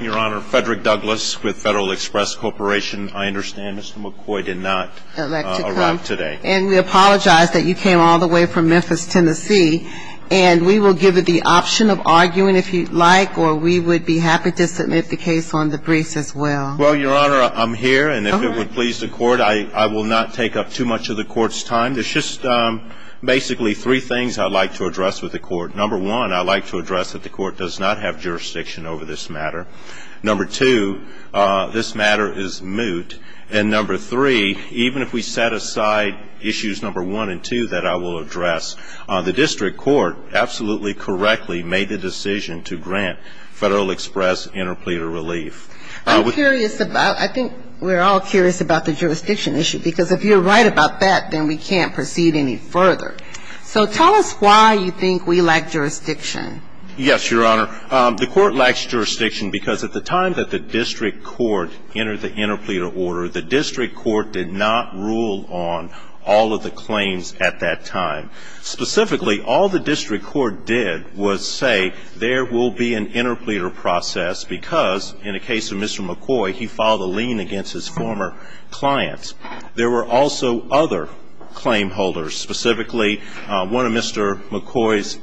Your Honor, Frederick Douglass with Federal Express Corporation. I understand Mr. McCoy did not arrive today. And we apologize that you came all the way from Memphis, Tennessee, and we will give you the option of arguing if you'd like, or we would be happy to submit the case on the briefs as well. Well, Your Honor, I'm here, and if it would please the Court, I will not take up too much of the Court's time. There's just basically three things I'd like to address with the Court. Number one, I'd like to address that the Court does not have jurisdiction over this matter. Number two, this matter is moot. And number three, even if we set aside issues number one and two that I will address, the district court absolutely correctly made the decision to grant Federal Express interpleater relief. I'm curious about – I think we're all curious about the jurisdiction issue, because if you're right about that, then we can't proceed any further. So tell us why you think we lack jurisdiction. Yes, Your Honor. The Court lacks jurisdiction because at the time that the district court entered the interpleater order, the district court did not rule on all of the claims at that time. Specifically, all the district court did was say there will be an interpleater process, because in the case of Mr. McCoy, he filed a lien against his former clients. There were also other claim holders. Specifically, one of Mr. McCoy's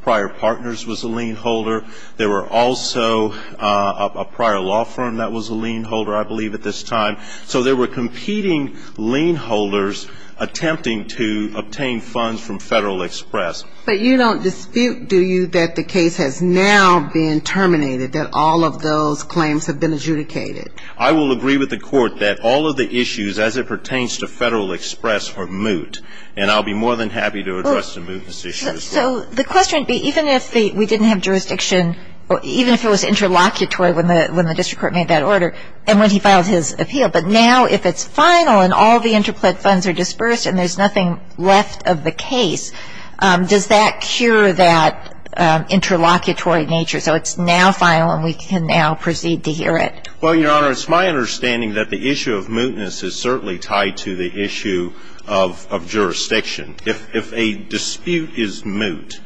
prior partners was a lien holder. There were also a prior law firm that was a lien holder, I believe, at this time. So there were competing lien holders attempting to obtain funds from Federal Express. But you don't dispute, do you, that the case has now been terminated, that all of those claims have been adjudicated? I will agree with the Court that all of the issues as it pertains to Federal Express were moot, and I'll be more than happy to address the mootness issue as well. So the question would be, even if we didn't have jurisdiction, even if it was interlocutory when the district court made that order and when he filed his appeal, but now if it's final and all the interplaid funds are dispersed and there's nothing left of the case, does that cure that interlocutory nature so it's now final and we can now proceed to hear it? Well, Your Honor, it's my understanding that the issue of mootness is certainly tied to the issue of jurisdiction. If a dispute is moot,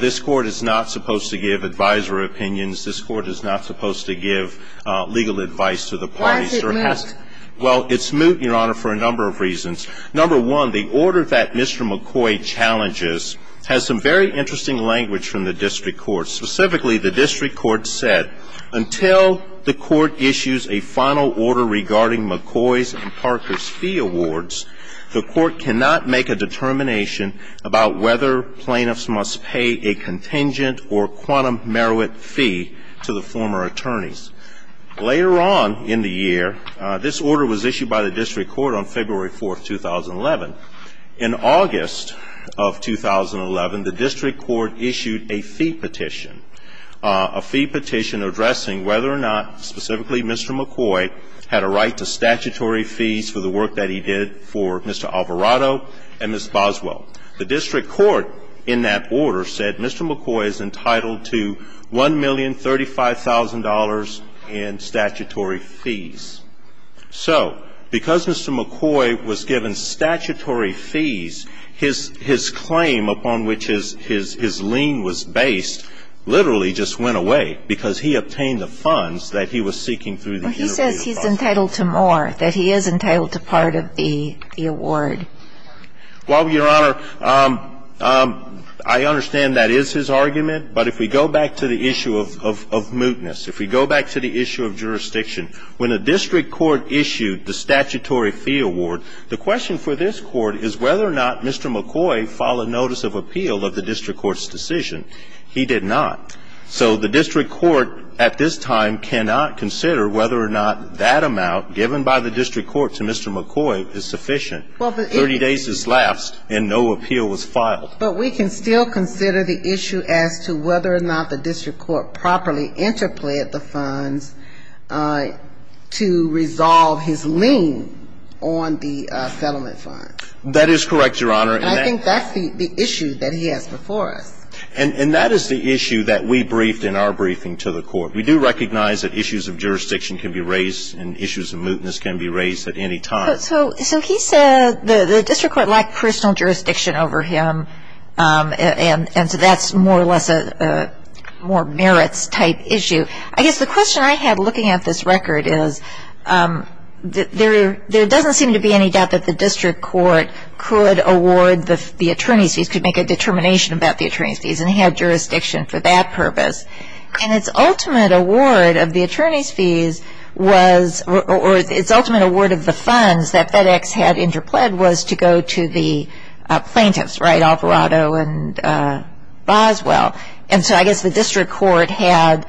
this Court is not supposed to give advisory opinions. This Court is not supposed to give legal advice to the parties. Why is it moot? Well, it's moot, Your Honor, for a number of reasons. Number one, the order that Mr. McCoy challenges has some very interesting language from the district court. Specifically, the district court said, until the court issues a final order regarding McCoy's and Parker's fee awards, the court cannot make a determination about whether plaintiffs must pay a contingent or quantum merit fee to the former attorneys. Later on in the year, this order was issued by the district court on February 4, 2011. In August of 2011, the district court issued a fee petition, a fee petition addressing whether or not specifically Mr. McCoy had a right to statutory fees for the work that he did for Mr. Alvarado and Ms. Boswell. The district court in that order said Mr. McCoy is entitled to $1,035,000 in statutory fees. So because Mr. McCoy was given statutory fees, his claim upon which his lien was based literally just went away because he obtained the funds that he was seeking through the year. He says he's entitled to more, that he is entitled to part of the award. Well, Your Honor, I understand that is his argument. But if we go back to the issue of mootness, if we go back to the issue of jurisdiction, when a district court issued the statutory fee award, the question for this court is whether or not Mr. McCoy filed a notice of appeal of the district court's decision. He did not. So the district court at this time cannot consider whether or not that amount given by the district court to Mr. McCoy is sufficient. Thirty days is last, and no appeal was filed. But we can still consider the issue as to whether or not the district court properly interplayed the funds to resolve his lien on the settlement funds. That is correct, Your Honor. And I think that's the issue that he has before us. And that is the issue that we briefed in our briefing to the court. We do recognize that issues of jurisdiction can be raised and issues of mootness can be raised at any time. So he said the district court lacked personal jurisdiction over him, and so that's more or less a more merits-type issue. I guess the question I have looking at this record is there doesn't seem to be any doubt that the district court could award the attorney's fees, could make a determination about the attorney's fees, and he had jurisdiction for that purpose. And its ultimate award of the attorney's fees was or its ultimate award of the funds that FedEx had interplayed was to go to the plaintiffs, right, Alvarado and Boswell. And so I guess the district court had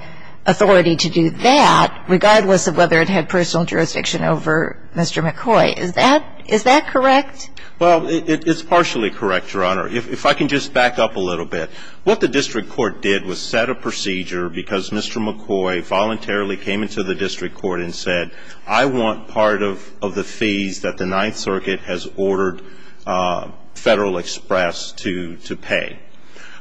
authority to do that regardless of whether it had personal jurisdiction over Mr. McCoy. Is that correct? Well, it's partially correct, Your Honor. If I can just back up a little bit. What the district court did was set a procedure because Mr. McCoy voluntarily came into the district court and said I want part of the fees that the Ninth Circuit has ordered Federal Express to pay.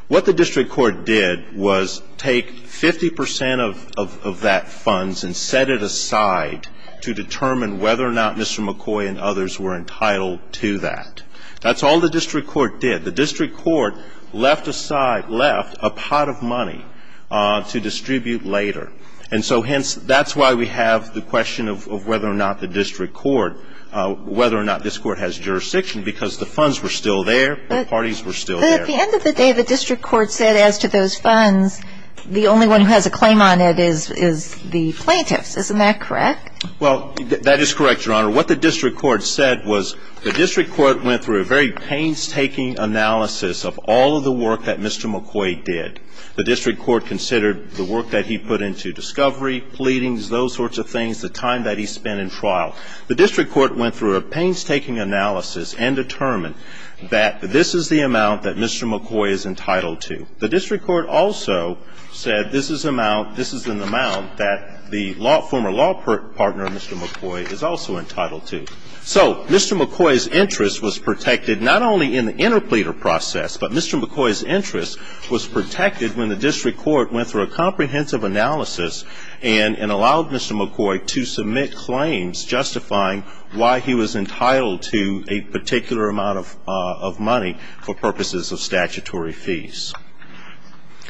What the district court did was take 50 percent of that funds and set it aside to determine whether or not Mr. McCoy and others were entitled to that. That's all the district court did. The district court left aside, left a pot of money to distribute later. And so hence, that's why we have the question of whether or not the district court, whether or not this court has jurisdiction, because the funds were still there, the parties were still there. But at the end of the day, the district court said as to those funds, the only one who has a claim on it is the plaintiffs. Isn't that correct? Well, that is correct, Your Honor. What the district court said was the district court went through a very painstaking analysis of all of the work that Mr. McCoy did. The district court considered the work that he put into discovery, pleadings, those sorts of things, the time that he spent in trial. The district court went through a painstaking analysis and determined that this is the amount that Mr. McCoy is entitled to. The district court also said this is an amount that the former law partner, Mr. McCoy, is also entitled to. So Mr. McCoy's interest was protected not only in the interpleader process, but Mr. McCoy's interest was protected when the district court went through a comprehensive analysis and allowed Mr. McCoy to submit claims justifying why he was entitled to a particular amount of money for purposes of statutory fees.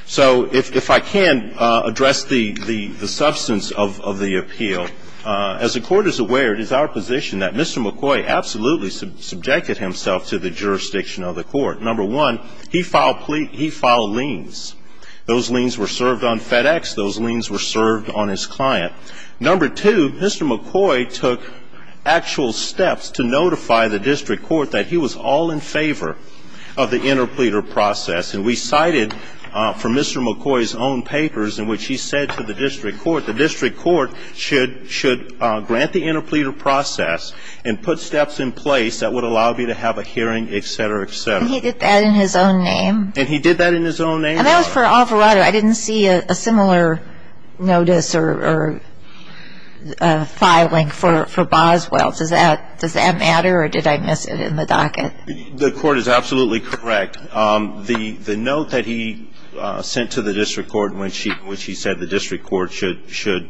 So if I can address the substance of the appeal, as the Court is aware, it is our position that Mr. McCoy absolutely subjected himself to the jurisdiction of the Court. Number one, he filed liens. Those liens were served on FedEx. Those liens were served on his client. Number two, Mr. McCoy took actual steps to notify the district court that he was all in favor of the interpleader process. And we cited from Mr. McCoy's own papers in which he said to the district court, the district court should grant the interpleader process and put steps in place that would allow me to have a hearing, et cetera, et cetera. And he did that in his own name? And he did that in his own name? And that was for Alvarado. I didn't see a similar notice or filing for Boswell. Does that matter, or did I miss it in the docket? The Court is absolutely correct. The note that he sent to the district court in which he said the district court should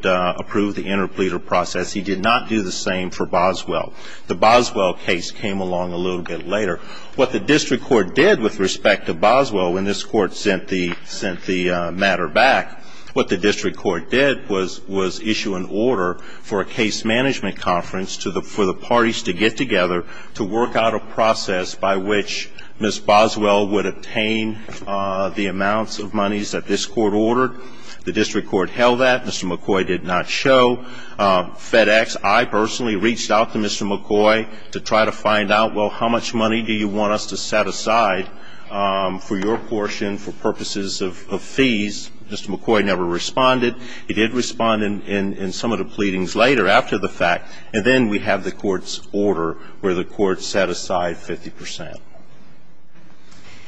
approve the interpleader process, he did not do the same for Boswell. The Boswell case came along a little bit later. What the district court did with respect to Boswell when this Court sent the matter back, what the district court did was issue an order for a case management conference for the parties to get together to work out a process by which Ms. Boswell would obtain the amounts of monies that this Court ordered. The district court held that. Mr. McCoy did not show. FedEx, I personally reached out to Mr. McCoy to try to find out, well, how much money do you want us to set aside for your portion for purposes of fees? Mr. McCoy never responded. He did respond in some of the pleadings later after the fact. And then we have the Court's order where the Court set aside 50 percent.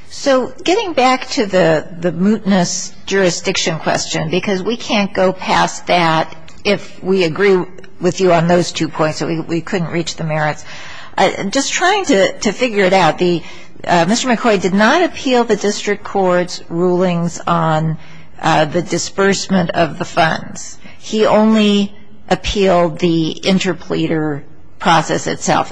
So getting back to the mootness jurisdiction question, because we can't go past that if we agree with you on those two points that we couldn't reach the merits. Just trying to figure it out, Mr. McCoy did not appeal the district court's rulings on the disbursement of the funds. He only appealed the interpleader process itself,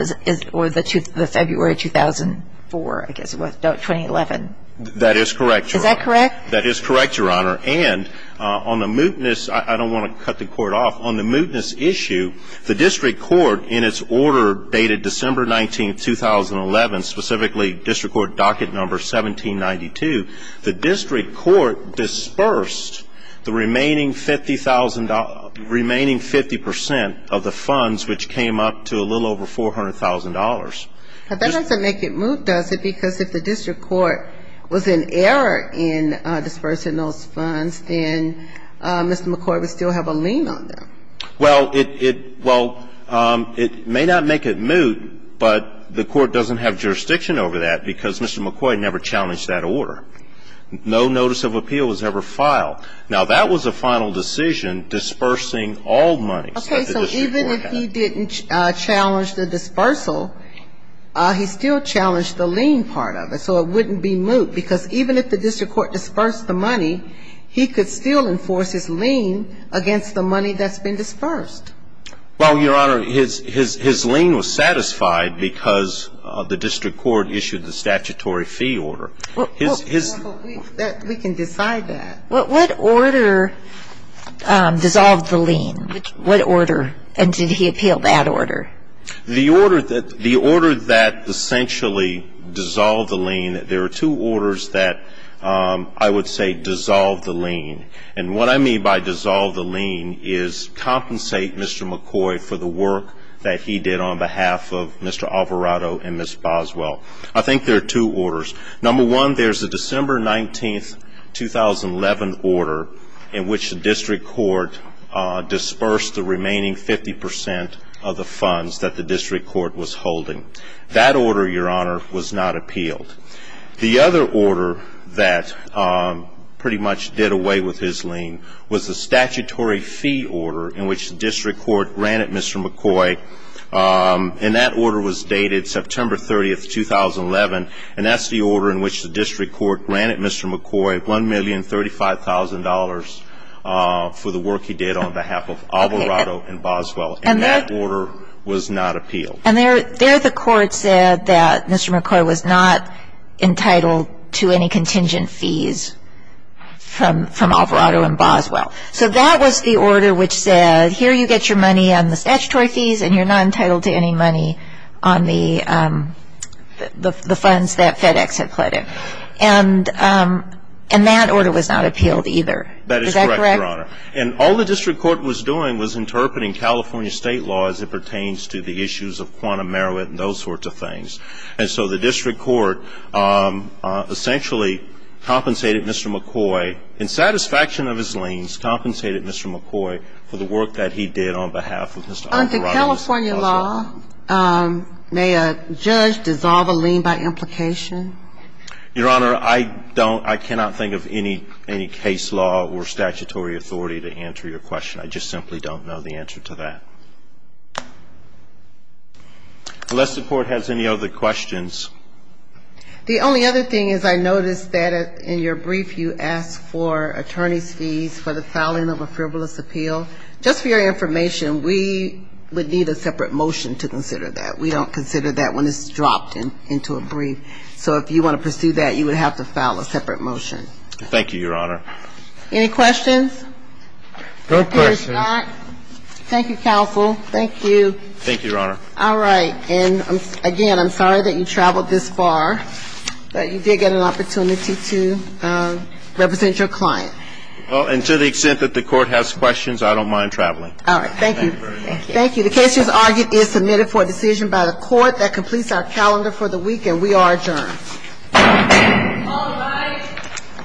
or the February 2004, I guess it was, 2011. That is correct, Your Honor. Is that correct? That is correct, Your Honor. And on the mootness, I don't want to cut the Court off, on the mootness issue, the district court in its order dated December 19, 2011, specifically district court docket number 1792, the district court dispersed the remaining 50 percent of the funds, which came up to a little over $400,000. But that doesn't make it moot, does it? Because if the district court was in error in disbursing those funds, then Mr. McCoy would still have a lien on them. Well, it may not make it moot, but the court doesn't have jurisdiction over that because Mr. McCoy never challenged that order. No notice of appeal was ever filed. Now, that was a final decision, dispersing all money that the district court had. Okay. So even if he didn't challenge the dispersal, he still challenged the lien part of it. So it wouldn't be moot because even if the district court dispersed the money, he could still enforce his lien against the money that's been dispersed. Well, Your Honor, his lien was satisfied because the district court issued the statutory fee order. Well, we can decide that. What order dissolved the lien? What order? And did he appeal that order? The order that essentially dissolved the lien, there are two orders that I would say dissolved the lien. And what I mean by dissolved the lien is compensate Mr. McCoy for the work that he did on behalf of Mr. Alvarado and Ms. Boswell. I think there are two orders. Number one, there's a December 19, 2011 order in which the district court dispersed the remaining 50 percent of the funds that the district court was holding. That order, Your Honor, was not appealed. The other order that pretty much did away with his lien was the statutory fee order in which the district court ran at Mr. McCoy. And that order was dated September 30, 2011, and that's the order in which the district court ran at Mr. McCoy $1,035,000 for the work he did on behalf of Alvarado and Boswell. And that order was not appealed. And there the court said that Mr. McCoy was not entitled to any contingent fees from Alvarado and Boswell. So that was the order which said, here you get your money on the statutory fees and you're not entitled to any money on the funds that FedEx had pledged. And that order was not appealed either. Is that correct? That is correct, Your Honor. And all the district court was doing was interpreting California state law as it pertains to the issues of quantum merit and those sorts of things. And so the district court essentially compensated Mr. McCoy in satisfaction of his liens, compensated Mr. McCoy for the work that he did on behalf of Mr. Alvarado and Boswell. Under California law, may a judge dissolve a lien by implication? Your Honor, I don't – I cannot think of any case law or statutory authority to answer your question. I just simply don't know the answer to that. Unless the court has any other questions. The only other thing is I noticed that in your brief you asked for attorney's fees for the filing of a frivolous appeal. Just for your information, we would need a separate motion to consider that. We don't consider that when it's dropped into a brief. So if you want to pursue that, you would have to file a separate motion. Thank you, Your Honor. Any questions? No questions. Thank you, counsel. Thank you. Thank you, Your Honor. All right. And again, I'm sorry that you traveled this far, but you did get an opportunity to represent your client. Well, and to the extent that the court has questions, I don't mind traveling. All right. Thank you. Thank you very much. Thank you. The case, as argued, is submitted for a decision by the court that completes our calendar for the week, and we are adjourned. All rise.